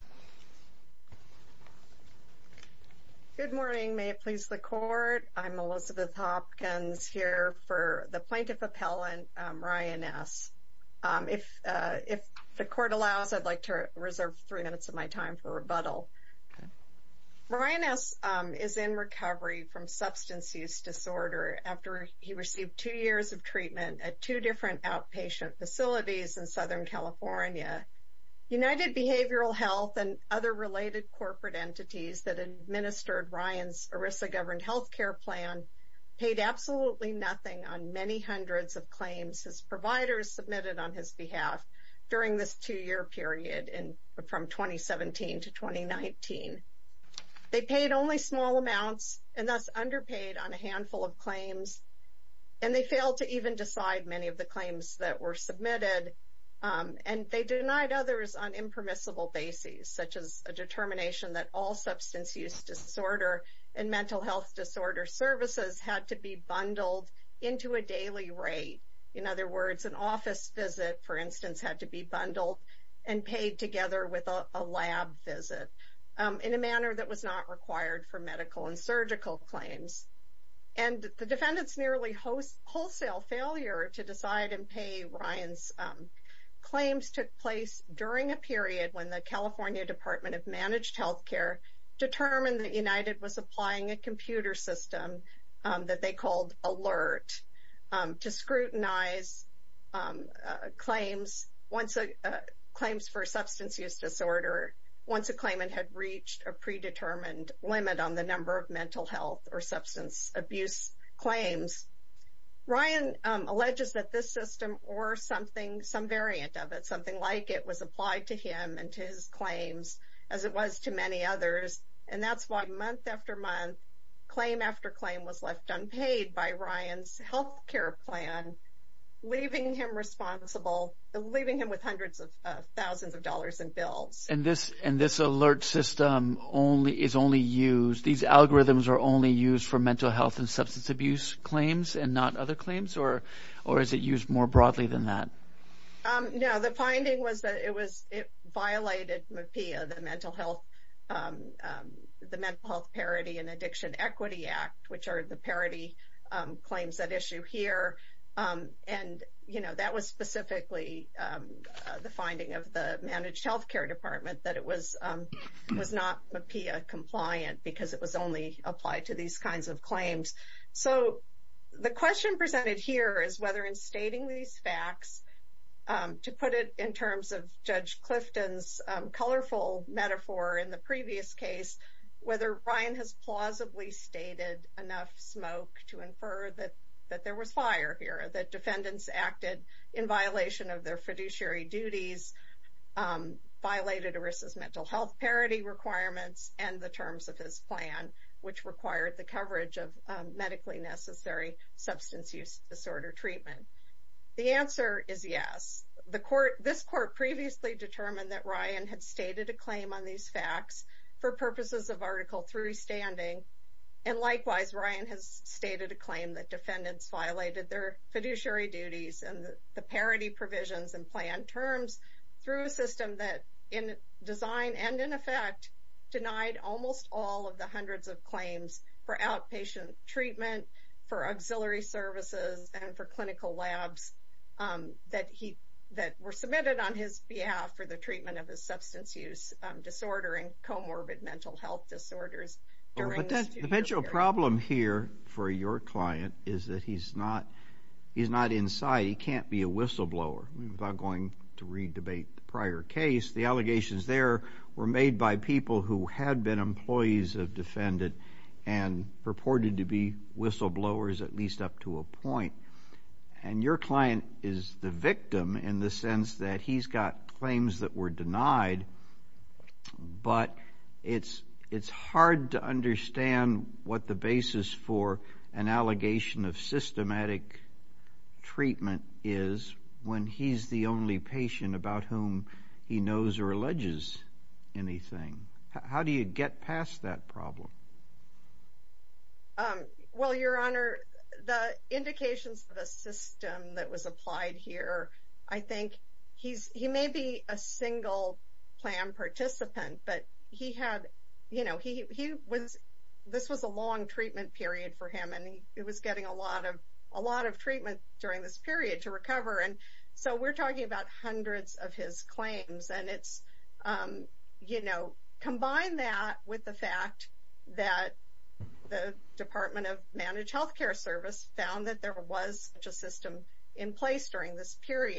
Elizabeth Hopkins Good morning. May it please the Court? I'm Elizabeth Hopkins here for the Plaintiff Appellant, Ryan S. If the Court allows, I'd like to reserve three minutes of my time for rebuttal. Ryan S. is in recovery from substance use disorder after he received two years of treatment at two different outpatient facilities in New York. His health and other related corporate entities that administered Ryan's ERISA-governed health care plan paid absolutely nothing on many hundreds of claims his providers submitted on his behalf during this two-year period from 2017 to 2019. They paid only small amounts and thus underpaid on a handful of claims, and they failed to even decide many of the claims, such as a determination that all substance use disorder and mental health disorder services had to be bundled into a daily rate. In other words, an office visit, for instance, had to be bundled and paid together with a lab visit in a manner that was not required for medical and surgical claims. And the defendant's nearly wholesale failure to decide and pay Ryan's claims took place during a period when the California Department of Managed Health Care determined that United was applying a computer system that they called ALERT to scrutinize claims for substance use disorder once a claimant had reached a predetermined limit on the number of mental health or substance abuse claims. Ryan alleges that this system or some variant of it, something like it, was applied to him and to his claims as it was to many others. And that's why month after month, claim after claim was left unpaid by Ryan's health care plan, leaving him with hundreds of thousands of dollars in bills. And this ALERT system is only used, these algorithms are only used for mental health and substance abuse claims and not other claims, or is it used more broadly than that? No, the finding was that it violated MAPEA, the Mental Health Parity and Addiction Equity Act, which are the parity claims that issue here. And that was specifically the finding of the Managed Health Care Department that it was not MAPEA compliant because it was only applied to these kinds of claims. So the question presented here is whether in stating these facts, to put it in terms of Judge Clifton's colorful metaphor in the previous case, whether Ryan has plausibly stated enough smoke to infer that there was fire here, that defendants acted in violation of their fiduciary duties, violated ERISA's mental health parity requirements and the terms of his plan, which required the coverage of medically necessary substance use disorder treatment. The answer is yes. This court previously determined that Ryan had stated a claim on these facts for purposes of Article 3 standing, and likewise, Ryan has stated a claim that defendants violated their fiduciary duties and the parity provisions and terms through a system that, in design and in effect, denied almost all of the hundreds of claims for outpatient treatment, for auxiliary services and for clinical labs that were submitted on his behalf for the treatment of his substance use disorder and comorbid mental health disorders. The potential problem here for your client is that he's not inside. He can't be a defendant. I'm going to re-debate the prior case. The allegations there were made by people who had been employees of defendants and purported to be whistleblowers at least up to a point, and your client is the victim in the sense that he's got claims that were denied, but it's hard to patient about whom he knows or alleges anything. How do you get past that problem? Well, Your Honor, the indications of the system that was applied here, I think he may be a single plan participant, but this was a long treatment period for him, and he was getting a lot of hundreds of his claims. Combine that with the fact that the Department of Managed Healthcare Service found that there was such a system in place during this very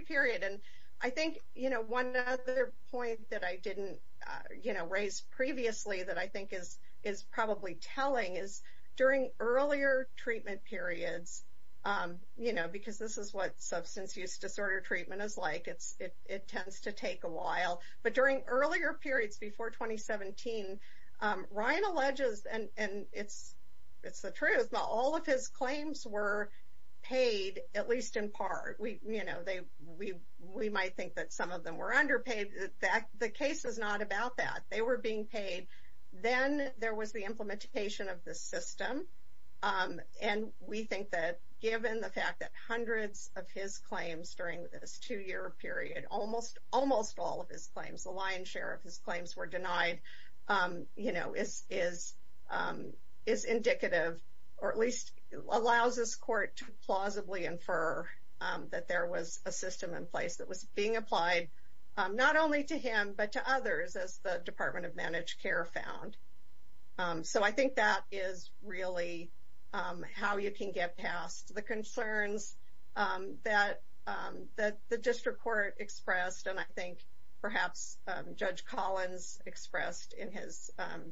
period. I think one other point that I didn't raise previously that I think is probably telling is during earlier treatment is like, it tends to take a while, but during earlier periods before 2017, Ryan alleges, and it's the truth, but all of his claims were paid at least in part. We might think that some of them were underpaid. The case is not about that. They were being paid. Then there was the implementation of the system, and we think that given the fact that hundreds of his claims during this two-year period, almost all of his claims, the lion's share of his claims were denied, is indicative, or at least allows this court to plausibly infer that there was a system in place that was being implemented. I think that is really how you can get past the concerns that the district court expressed, and I think perhaps Judge Collins expressed in his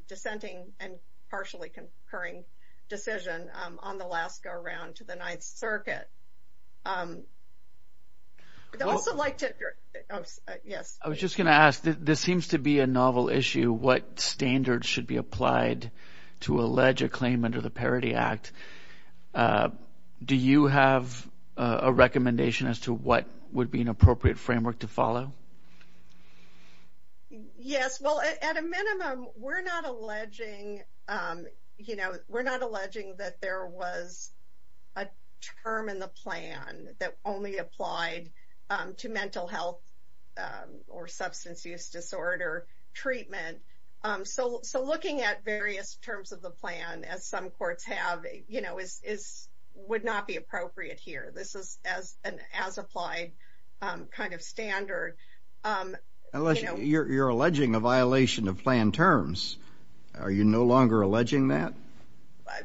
dissenting and partially concurring decision on the last go-around to the Ninth Circuit. I would also like to, yes. I was just going to ask, this seems to be a novel issue. What standards should be applied to allege a claim under the Parity Act? Do you have a recommendation as to what would be an appropriate framework to follow? Yes. Well, at a minimum, we're not alleging that there was a term in the plan that only applied to mental health or substance use disorder treatment. So looking at various terms of the plan, as some courts have, would not be appropriate here. This is an as-applied kind of standard. You're alleging a violation of plan terms. Are you no longer alleging that?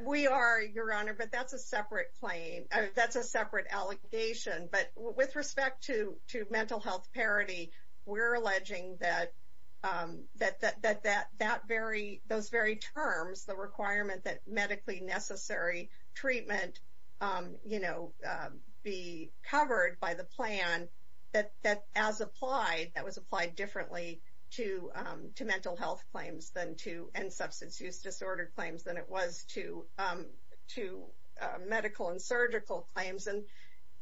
We are, Your Honor, but that's a separate claim. That's a separate allegation. But with respect to that, those very terms, the requirement that medically necessary treatment be covered by the plan, that as applied, that was applied differently to mental health claims and substance use disorder claims than it was to medical and surgical claims.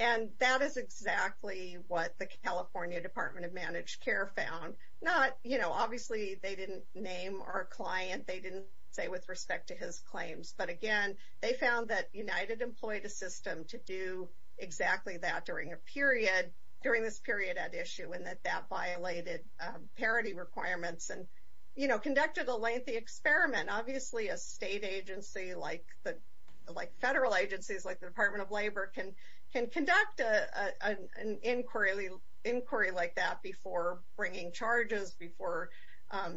And that is exactly what the California Department of Managed Care found. Obviously, they didn't name our client. They didn't say with respect to his claims. But again, they found that United employed a system to do exactly that during this period at issue and that that violated parity requirements and conducted a lengthy experiment. Obviously, a state agency like federal agencies, like the Department of Labor, can conduct an inquiry like that before bringing charges, before,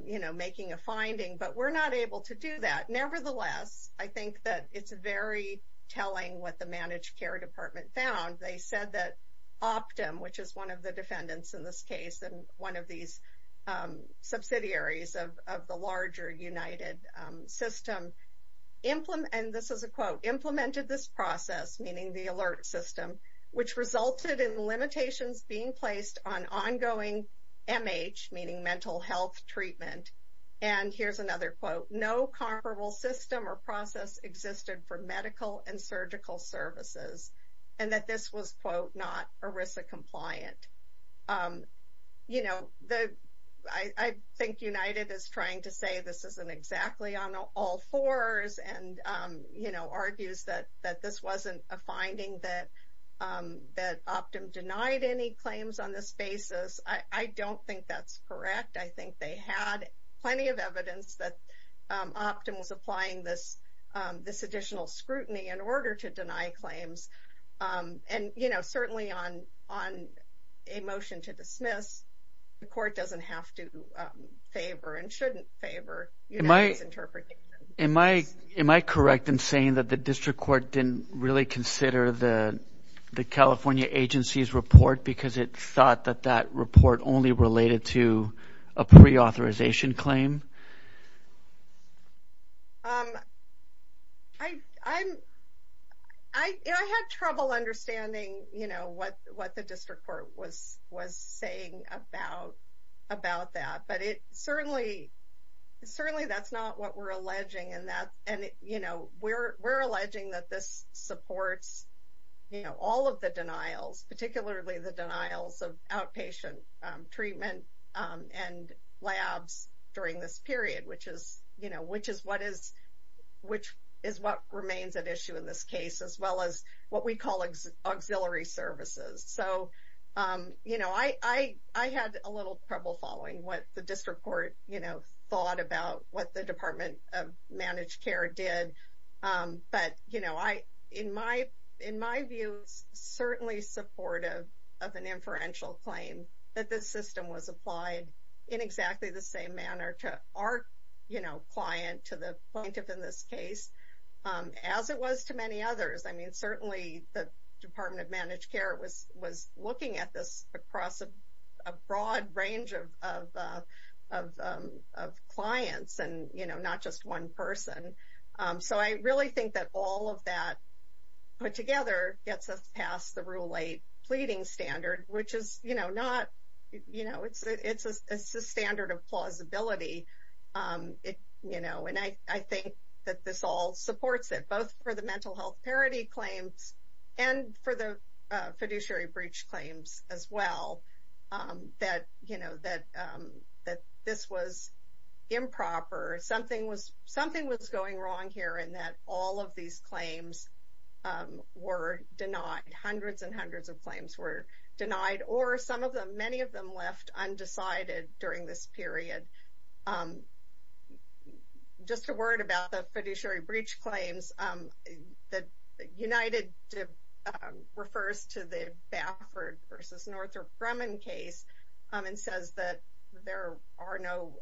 you know, making a finding, but we're not able to do that. Nevertheless, I think that it's very telling what the Managed Care Department found. They said that Optum, which is one of the defendants in this case, and one of these subsidiaries of the larger United system, and this is a quote, implemented this process, meaning the alert system, which resulted in limitations being placed on ongoing MH, meaning mental health treatment. And here's another quote, no comparable system or process existed for medical and surgical services, and that this was, quote, not ERISA compliant. You know, the I think United is trying to say this isn't exactly on all fours. And, you know, argues that this wasn't a finding that Optum denied any claims on this basis. I don't think that's correct. I think they had plenty of evidence that Optum was applying this additional scrutiny in order to deny claims. And, you know, certainly on a motion to dismiss, the court doesn't have to favor and shouldn't favor United's interpretation. Am I correct in saying that the district court didn't really consider the California agency's report because it thought that that report only related to a pre-authorization claim? I, I'm, I had trouble understanding, you know, what, what the district court was, was saying about, about that, but it certainly, certainly that's not what we're alleging in that. And, you know, we're, we're alleging that this supports, you know, all of the denials, particularly the denials of outpatient treatment and labs during this period, which is, you know, which is what is, which is what remains at issue in this case, as well as what we call auxiliary services. So, you know, I, I, I had a little trouble following what the district court, you know, thought about what the Department of Managed Care did. But, you know, I, in my, in my view, certainly supportive of an inferential claim that this system was applied in exactly the same manner to our, you know, client, to the plaintiff in this case, as it was to many others. I mean, certainly the Department of Managed Care was, was looking at this across a broad range of, of, of, of clients and, you know, not just one person. So, I really think that all of that put together gets us past the Rule 8 pleading standard, which is, you know, not, you know, it's, it's a standard of plausibility. It, you know, and I, I think that this all supports it, both for the mental health parity claims, and for the fiduciary breach claims as well, that, you know, that, that this was improper, something was, something was going wrong here, and that all of these claims were denied, hundreds and hundreds of claims were denied, or some of them, many of them left undecided during this period. Just a word about the fiduciary breach claims, that United refers to the Baffert versus Northrop and says that there are no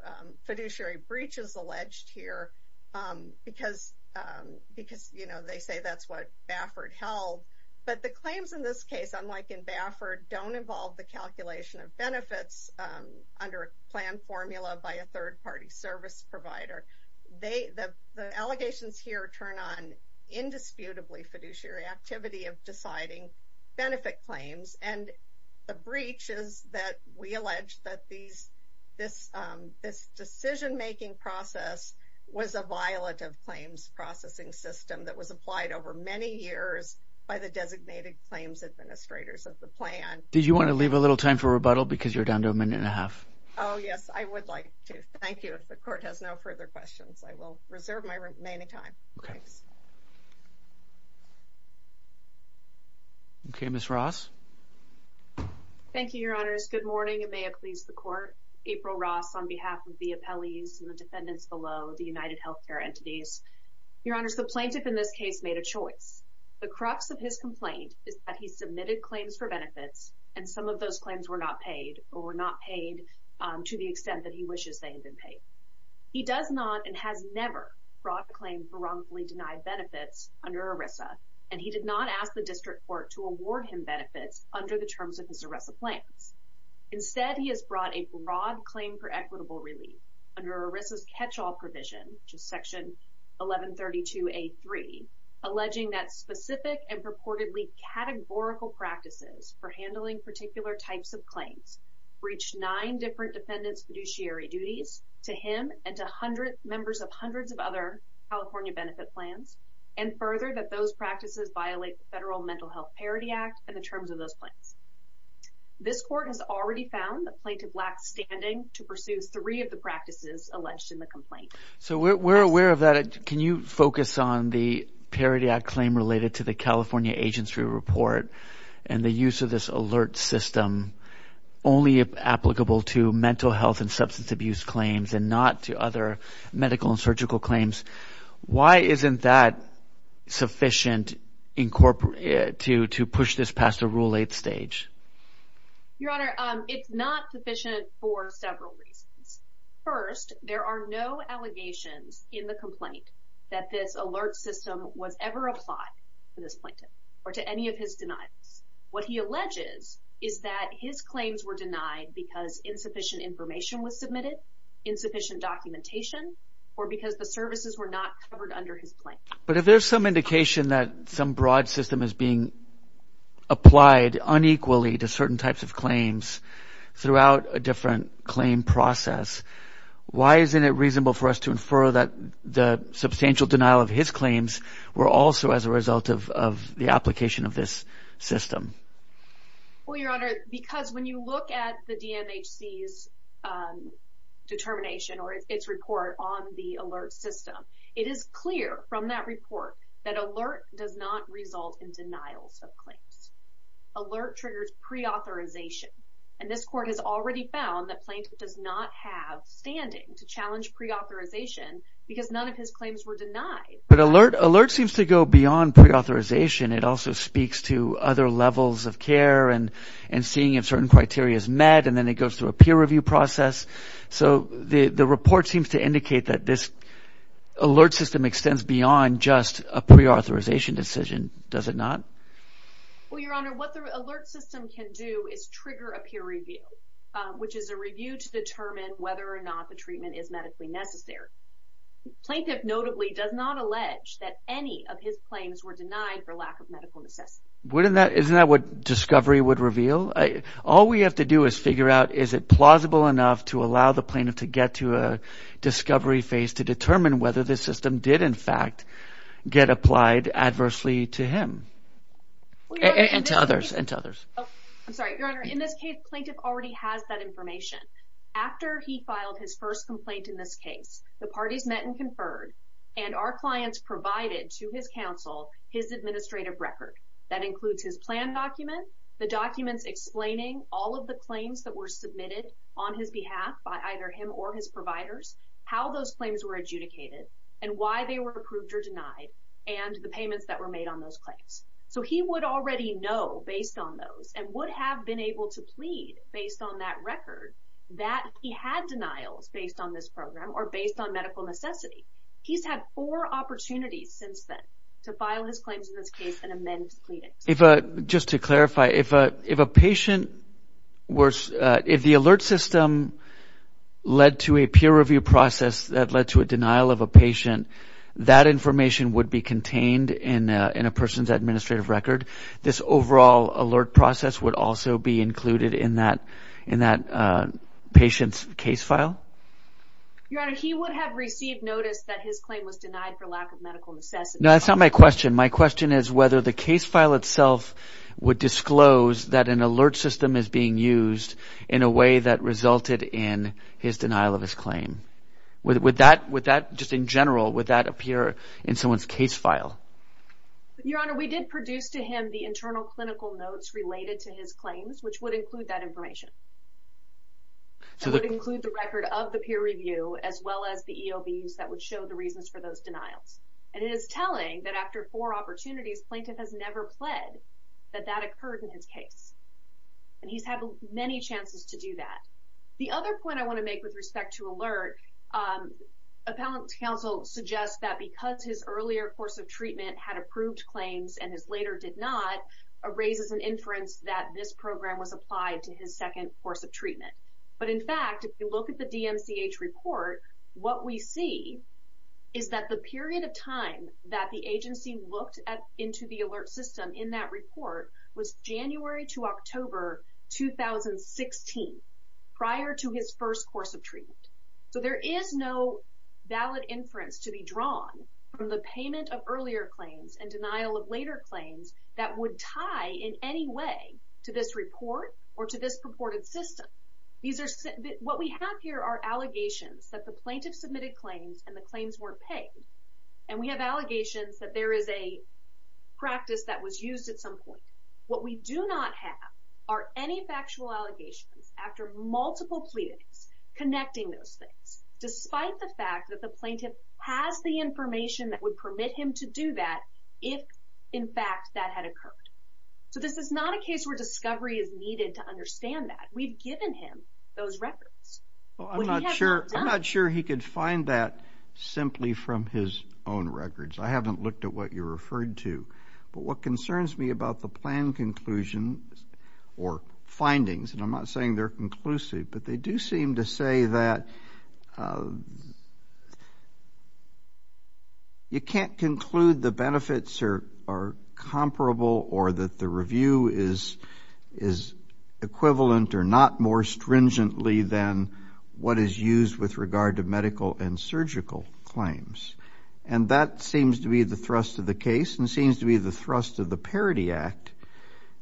fiduciary breaches alleged here, because, because, you know, they say that's what Baffert held. But the claims in this case, unlike in Baffert, don't involve the calculation of benefits under a plan formula by a third-party service provider. They, the, the allegations here turn on indisputably fiduciary activity of deciding benefit claims, and the breach is that we allege that these, this, this decision-making process was a violative claims processing system that was applied over many years by the designated claims administrators of the plan. Did you want to leave a little time for rebuttal, because you're down to a minute and a half? Oh, yes, I would like to. Thank you. The court has no further questions. I will reserve my remaining time. Okay. Okay, Ms. Ross. Thank you, Your Honors. Good morning, and may it please the court. April Ross on behalf of the appellees and the defendants below the United Healthcare entities. Your Honors, the plaintiff in this case made a choice. The crux of his complaint is that he submitted claims for benefits, and some of those claims were not paid or were not paid to the extent that he wishes they had been paid. He does not and has never brought a claim for wrongfully denied benefits under ERISA, and he did not ask the district court to award him benefits under the terms of his ERISA plans. Instead, he has brought a broad claim for equitable relief under ERISA's catch-all provision, which is section 1132A.3, alleging that specific and purportedly categorical practices for handling particular types of claims breached nine different defendants' fiduciary duties to him and to hundreds, members of hundreds of other California benefit plans, and further, that those practices violate the Federal Mental Health Parity Act and the terms of those plans. This court has already found the plaintiff lax standing to pursue three of the practices alleged in the complaint. So we're aware of that. Can you focus on the Parity Act claim related to the California agency report and the use of this alert system only applicable to mental health and substance abuse claims and not to other medical and why isn't that sufficient to push this past the Rule 8 stage? Your Honor, it's not sufficient for several reasons. First, there are no allegations in the complaint that this alert system was ever applied to this plaintiff or to any of his denials. What he alleges is that his claims were denied because insufficient information was submitted, insufficient documentation, or because the services were not covered under his plan. But if there's some indication that some broad system is being applied unequally to certain types of claims throughout a different claim process, why isn't it reasonable for us to infer that the substantial denial of his claims were also as a result of the application of this system? Well, Your Honor, because when you look at the DMHC's determination or its report on the alert system, it is clear from that report that alert does not result in denials of claims. Alert triggers pre-authorization and this court has already found that plaintiff does not have standing to challenge pre-authorization because none of his claims were denied. But alert seems to go beyond pre-authorization. It also speaks to other levels of care and seeing if certain criteria is met and then it goes through a peer review process. So the report seems to indicate that this alert system extends beyond just a pre-authorization decision, does it not? Well, Your Honor, what the alert system can do is trigger a peer review, which is a review to determine whether or not the treatment is necessary. Plaintiff notably does not allege that any of his claims were denied for lack of medical necessity. Isn't that what discovery would reveal? All we have to do is figure out is it plausible enough to allow the plaintiff to get to a discovery phase to determine whether this system did in fact get applied adversely to him? And to others. I'm sorry, Your Honor, in this case, plaintiff already has that information. After he filed his first complaint in this case, the parties met and conferred and our clients provided to his counsel his administrative record that includes his plan document, the documents explaining all of the claims that were submitted on his behalf by either him or his providers, how those claims were adjudicated and why they were approved or denied and the payments that were made on those claims. So, he would already know based on those and would have been able to plead based on that record that he had denials based on this program or based on medical necessity. He's had four opportunities since then to file his claims in this case and then plead it. Just to clarify, if the alert system led to a peer review process that led to a denial of a patient, that information would be contained in a person's administrative record. This overall alert process would also be included in that patient's case file? Your Honor, he would have received notice that his claim was denied for lack of medical necessity. No, that's not my question. My question is whether the case file itself would disclose that an alert system is being used in a way that resulted in his denial of his claim. Would that, just in general, would that appear in someone's case file? Your Honor, we did produce to him the internal clinical notes related to his claims which would include that information. That would include the record of the peer review as well as the EOB use that would show the reasons for those denials and it is telling that after four opportunities, plaintiff has never pled that that occurred in his case and he's had many chances to do that. The other point I want to make with respect to alert, Appellant Counsel suggests that because his earlier course of treatment had approved claims and his later did not, raises an inference that this program was applied to his second course of treatment. But in fact, if you look at the DMCH report, what we see is that the period of time that the agency looked at into the alert system in that report was January to October 2016, prior to his first course of treatment. So, there is no valid inference to be drawn from the payment of earlier claims and denial of later claims that would tie in any way to this report or to this purported system. What we have here are allegations that the plaintiff submitted claims and the claims weren't paid and we have at some point. What we do not have are any factual allegations after multiple pleadings connecting those things, despite the fact that the plaintiff has the information that would permit him to do that if in fact that had occurred. So, this is not a case where discovery is needed to understand that. We've given him those records. Well, I'm not sure he could find that simply from his own records. I haven't looked at what you referred to. But what concerns me about the plan conclusion or findings, and I'm not saying they're conclusive, but they do seem to say that you can't conclude the benefits are comparable or that the review is equivalent or not more stringently than what is used with regard to medical and surgical claims. And that seems to be the thrust of the case and seems to be the thrust of the Parity Act.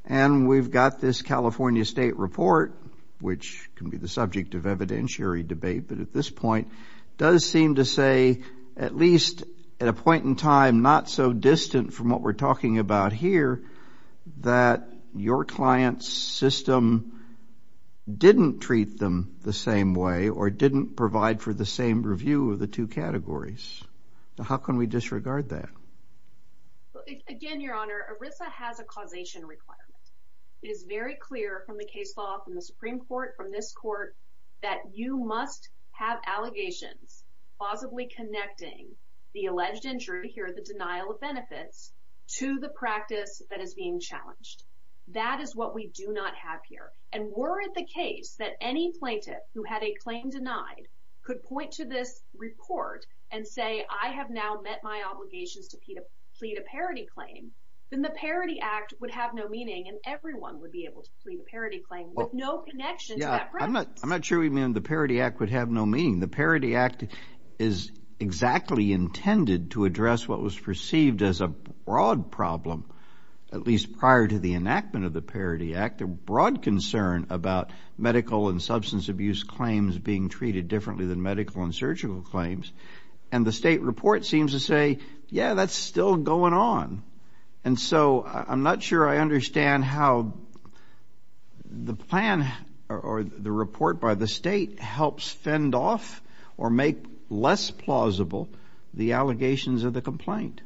And we've got this California State Report, which can be the subject of evidentiary debate, but at this point does seem to say, at least at a point in time not so distant from what we're talking about here, that your client's system didn't treat them the same way or didn't provide for the same review of the two categories. How can we disregard that? Again, Your Honor, ERISA has a causation requirement. It is very clear from the case law, from the Supreme Court, from this Court, that you must have allegations plausibly connecting the alleged injury here, the denial of benefits, to the practice that is being challenged. That is what we do not have here. And were it the case that any plaintiff who had a claim denied could point to this report and say, I have now met my obligations to plead a Parity Claim, then the Parity Act would have no meaning and everyone would be able to plead a Parity Claim with no connection to that practice. I'm not sure we mean the Parity Act would have no meaning. The Parity Act is exactly intended to address what was perceived as a broad problem, at least prior to the enactment of the Parity Act, a broad concern about medical and substance abuse claims being treated differently than medical and surgical claims. And the state report seems to say, yeah, that's still going on. And so I'm not sure I understand how the plan or the report by the state helps fend off or make less plausible the allegations of the complaint.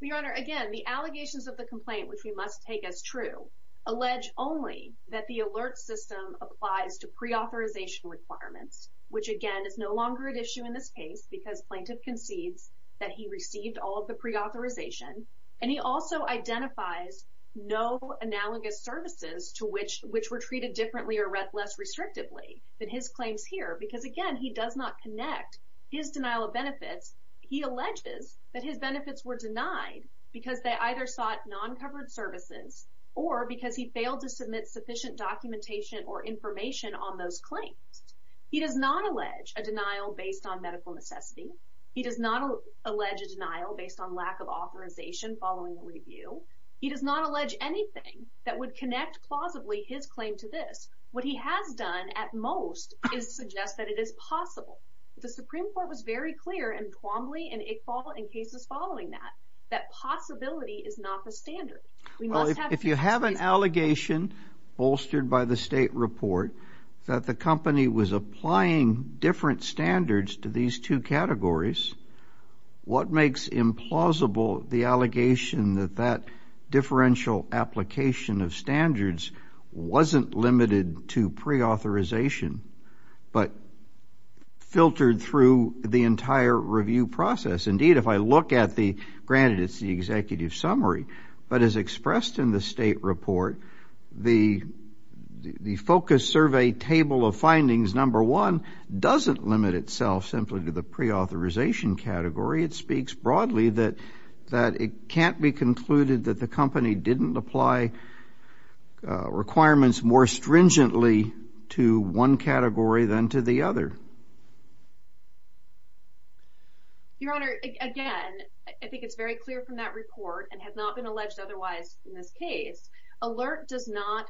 Well, Your Honor, again, the allegations of the complaint, which we must take as true, allege only that the alert system applies to pre-authorization requirements, which again, is no longer an issue in this case because plaintiff concedes that he received all of the pre-authorization. And he also identifies no analogous services to which were treated differently or less restrictively than his claims here, because again, he does not connect his denial of benefits. He alleges that his benefits were denied because they either sought non-covered services or because he failed to submit sufficient documentation or information on those claims. He does not allege a denial based on medical necessity. He does not allege a denial based on lack of authorization following the review. He does not allege anything that would connect plausibly his claim to this. What he has done at most is suggest that it is possible. The Supreme Court was very clear in Quambly and Iqbal and cases following that, that possibility is not the standard. If you have an allegation bolstered by the state report that the company was applying different standards to these two categories, what makes implausible the allegation that that differential application of standards wasn't limited to pre-authorization but filtered through the entire review process? Indeed, if I look at the, granted it's the executive summary, but as expressed in the state report, the focus survey table of findings, number one, doesn't limit itself simply to the pre-authorization category. It speaks broadly that it can't be concluded that the company didn't apply requirements more stringently to one category than to the other. Your Honor, again, I think it's very clear from that report and has not been alleged otherwise in this case, alert does not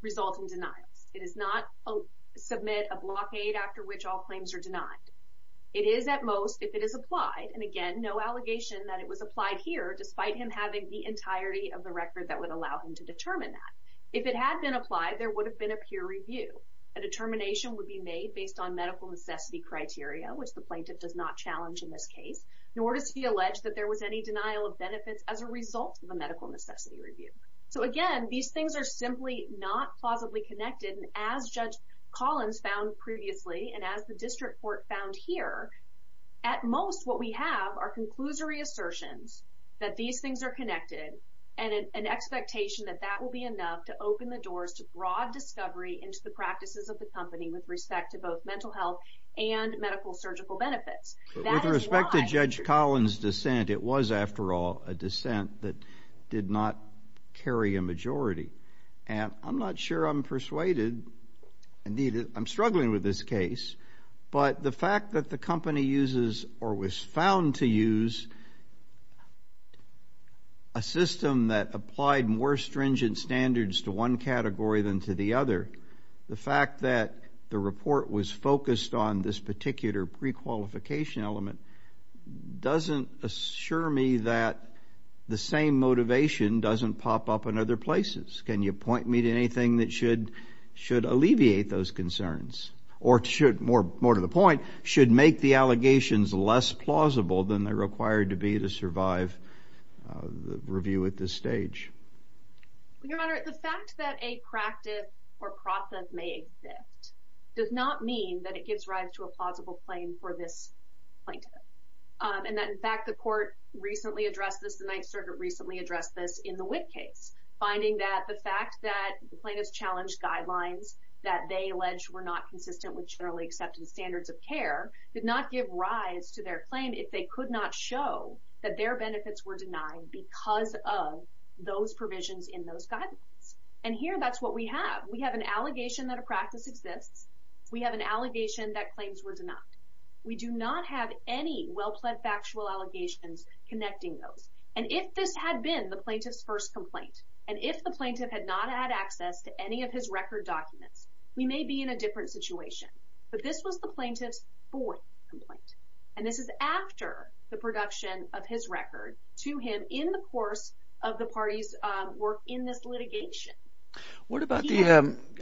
result in denials. It does not submit a blockade after which all claims are denied. It is at most, if it is applied, and again, no allegation that it was applied here despite him having the entirety of the record that would allow him to determine that. If it had been applied, there would have been a peer review. A determination would be made based on medical necessity criteria, which the plaintiff does not challenge in this case, nor does he allege that there was any denial of benefits as a result of a medical necessity review. So again, these things are simply not plausibly connected and as Judge Collins found previously and as the district court found here, at most what we have are conclusory assertions that these things are connected and an expectation that that will be enough to open the doors to broad discovery into the practices of the company with respect to both mental health and medical surgical benefits. With respect to Judge Collins' dissent, it was, after all, a dissent that did not carry a majority, and I'm not sure I'm persuaded. Indeed, I'm struggling with this case, but the fact that the company uses or was found to use a system that applied more stringent standards to one category than to the other, the fact that the report was focused on this particular prequalification element doesn't assure me that the same motivation doesn't pop up in other places. Can you point me to anything that should alleviate those concerns or should, more to the point, should make the allegations less plausible than they're required to be to survive the review at this stage? Your Honor, the fact that a practice or process may exist does not mean that it gives rise to a plausible claim for this plaintiff and that, in fact, the court recently addressed this, the Ninth Circuit recently addressed this in the Witt case, finding that the fact that the plaintiff's challenge guidelines that they alleged were not consistent with generally accepted standards of care did not give rise to their claim if they could not show that their benefits were denied because of those provisions in those guidelines. And here, that's what we have. We have an allegation that a practice exists. We have an allegation that claims were denied. We do not have any well-plaid factual allegations connecting those. And if this had been the plaintiff's first complaint and if the plaintiff had not had access to any of his record documents, we may be in a different situation. But this was the plaintiff's first complaint. And this is after the production of his record to him in the course of the party's work in this litigation. What about the,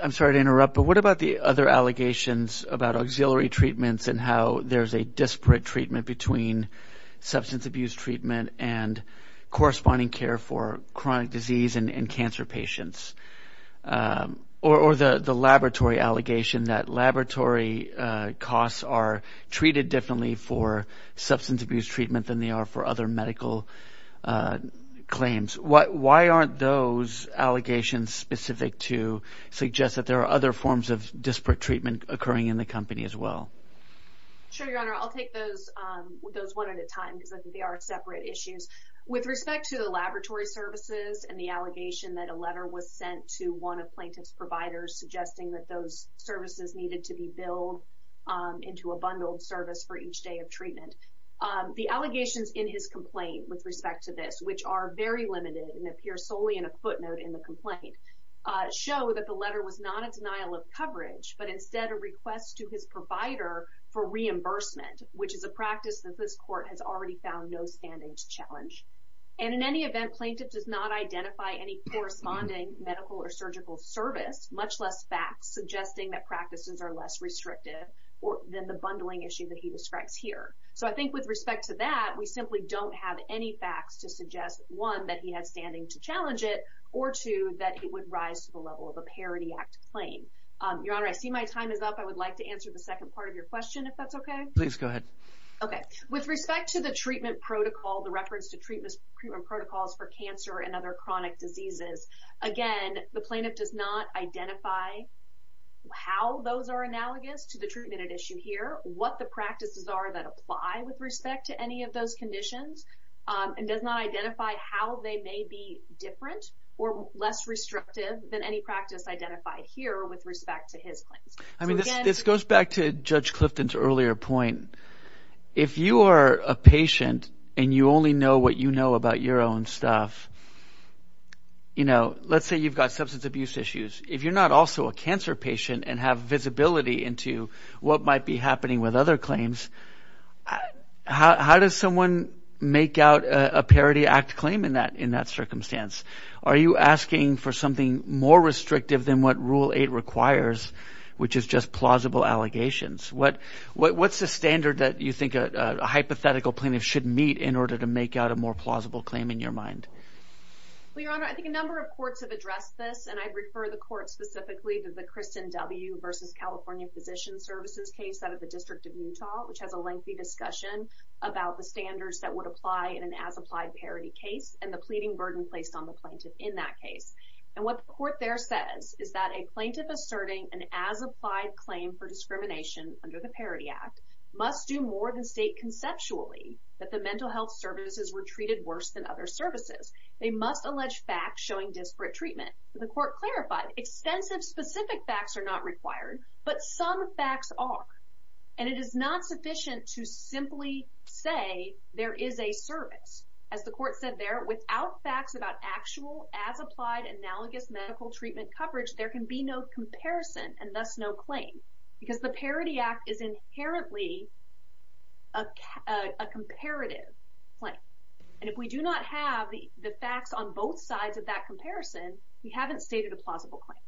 I'm sorry to interrupt, but what about the other allegations about auxiliary treatments and how there's a disparate treatment between substance abuse treatment and corresponding care for chronic disease and cancer patients? Or the laboratory allegation that laboratory costs are treated differently for substance abuse treatment than they are for other medical claims. Why aren't those allegations specific to suggest that there are other forms of disparate treatment occurring in the company as well? Sure, your honor. I'll take those one at a time because I think they are separate issues. With respect to the laboratory services and the allegation that a letter was sent to one of plaintiff's providers suggesting that those services needed to be billed into a bundled service for each day of treatment. The allegations in his complaint with respect to this, which are very limited and appear solely in a footnote in the complaint, show that the letter was not a denial of coverage, but instead a request to his provider for reimbursement, which is a practice that this court has already found no standing to challenge. And in any event, plaintiff does not identify any corresponding medical or surgical service, much less facts, suggesting that practices are less restrictive than the bundling issue that he describes here. So I think with respect to that, we simply don't have any facts to suggest, one, that he has standing to challenge it, or two, that it would rise to the level of a Parity Act claim. Your honor, I see my time is up. I would like to answer the second part of your question if that's okay. Please go ahead. Okay. With respect to the treatment protocol, the reference to treatment protocols for cancer and other chronic diseases, again, the plaintiff does not identify how those are analogous to the treatment at issue here, what the practices are that apply with respect to any of those conditions, and does not identify how they may be different or less restrictive than any practice identified here with respect to his claims. I mean, this goes back to what you know about your own stuff. Let's say you've got substance abuse issues. If you're not also a cancer patient and have visibility into what might be happening with other claims, how does someone make out a Parity Act claim in that circumstance? Are you asking for something more restrictive than what Rule 8 requires, which is just plausible allegations? What's the standard that you think a hypothetical plaintiff should meet in order to make out a more plausible claim in your mind? Well, your honor, I think a number of courts have addressed this, and I'd refer the court specifically to the Kristen W. v. California Physician Services case out of the District of Utah, which has a lengthy discussion about the standards that would apply in an as-applied Parity case and the pleading burden placed on the plaintiff in that case. And what the court there says is that a plaintiff asserting an as-applied claim for discrimination under the Parity Act must do more than state conceptually that the mental health services were treated worse than other services. They must allege facts showing disparate treatment. The court clarified extensive specific facts are not required, but some facts are. And it is not sufficient to simply say there is a service. As the court said there, without facts about actual as-applied analogous medical treatment coverage, there can be no comparison and thus no claim because the Parity Act is inherently a comparative claim. And if we do not have the facts on both sides of that comparison, we haven't stated a plausible claim.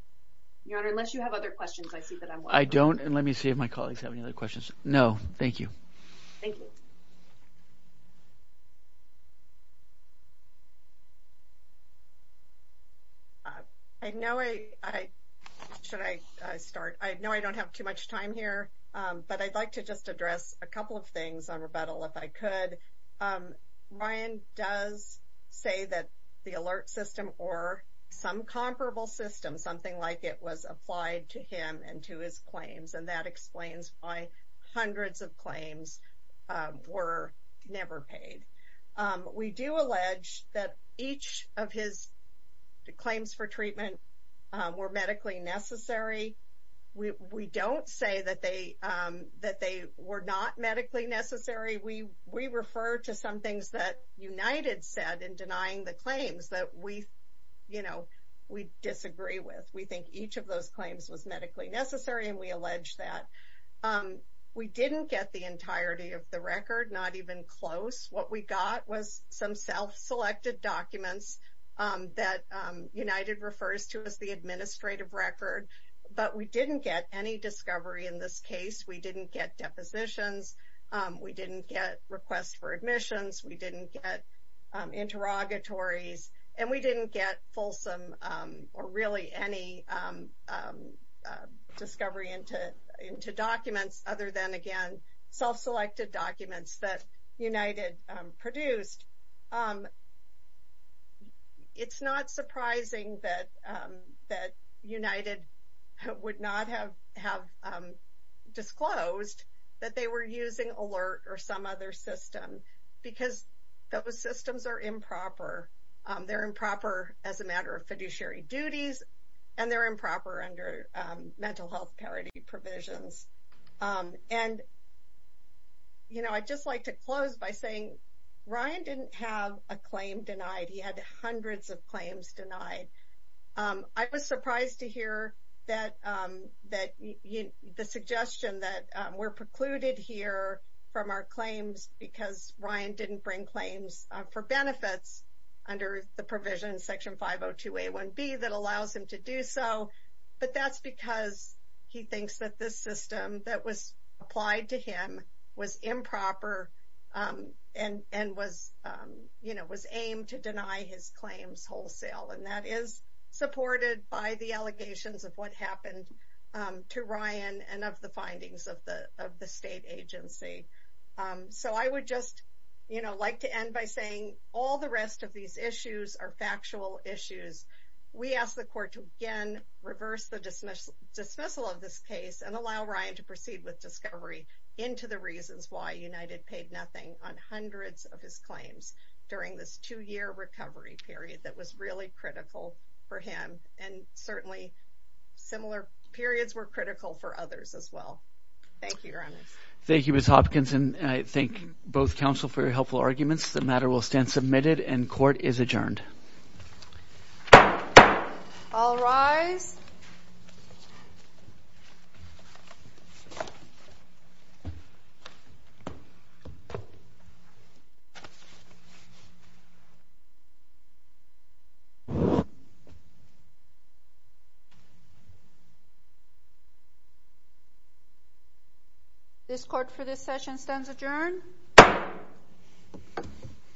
Your honor, unless you have other questions, I see that I'm welcome. I don't, and let me see if my colleagues have any other questions. No, thank you. Thank you. I know I, should I start? I know I don't have too much time here, but I'd like to just address a couple of things on rebuttal if I could. Ryan does say that the alert system or some comparable system, something like it was applied to him and to his claims, and that explains why hundreds of We do allege that each of his claims for treatment were medically necessary. We don't say that they were not medically necessary. We refer to some things that United said in denying the claims that we disagree with. We think each of those claims was medically necessary, and we allege that. We didn't get the entirety of the record, not even close. What we got was some self-selected documents that United refers to as the administrative record, but we didn't get any discovery in this case. We didn't get depositions. We didn't get requests for admissions. We didn't get interrogatories, and we didn't get fulsome or really any discovery into documents other than, again, self-selected documents that United produced. It's not surprising that United would not have disclosed that they were using alert or some other system, because those systems are improper. They're improper as a matter of fiduciary duties, and they're improper under mental health parity provisions. I'd just like to close by saying Ryan didn't have a claim denied. He had hundreds of claims denied. I was surprised to hear the suggestion that we're precluded here from our claims because Ryan didn't bring claims for benefits under the provision in Section 502A1B that allows him to do so, but that's because he thinks that this system that was applied to him was improper and was aimed to deny his claims wholesale, and that is supported by the allegations of what happened to Ryan and of the findings of the state agency. So I would just like to end by saying all the rest of these issues are factual issues. We ask the court to, again, reverse the dismissal of this case and allow Ryan to proceed with discovery into the reasons why United paid nothing on this case. Thank you, Your Honor. Thank you, Ms. Hopkins, and I thank both counsel for your helpful arguments. The matter will stand submitted, and court is adjourned. All rise. This court for this session stands adjourned.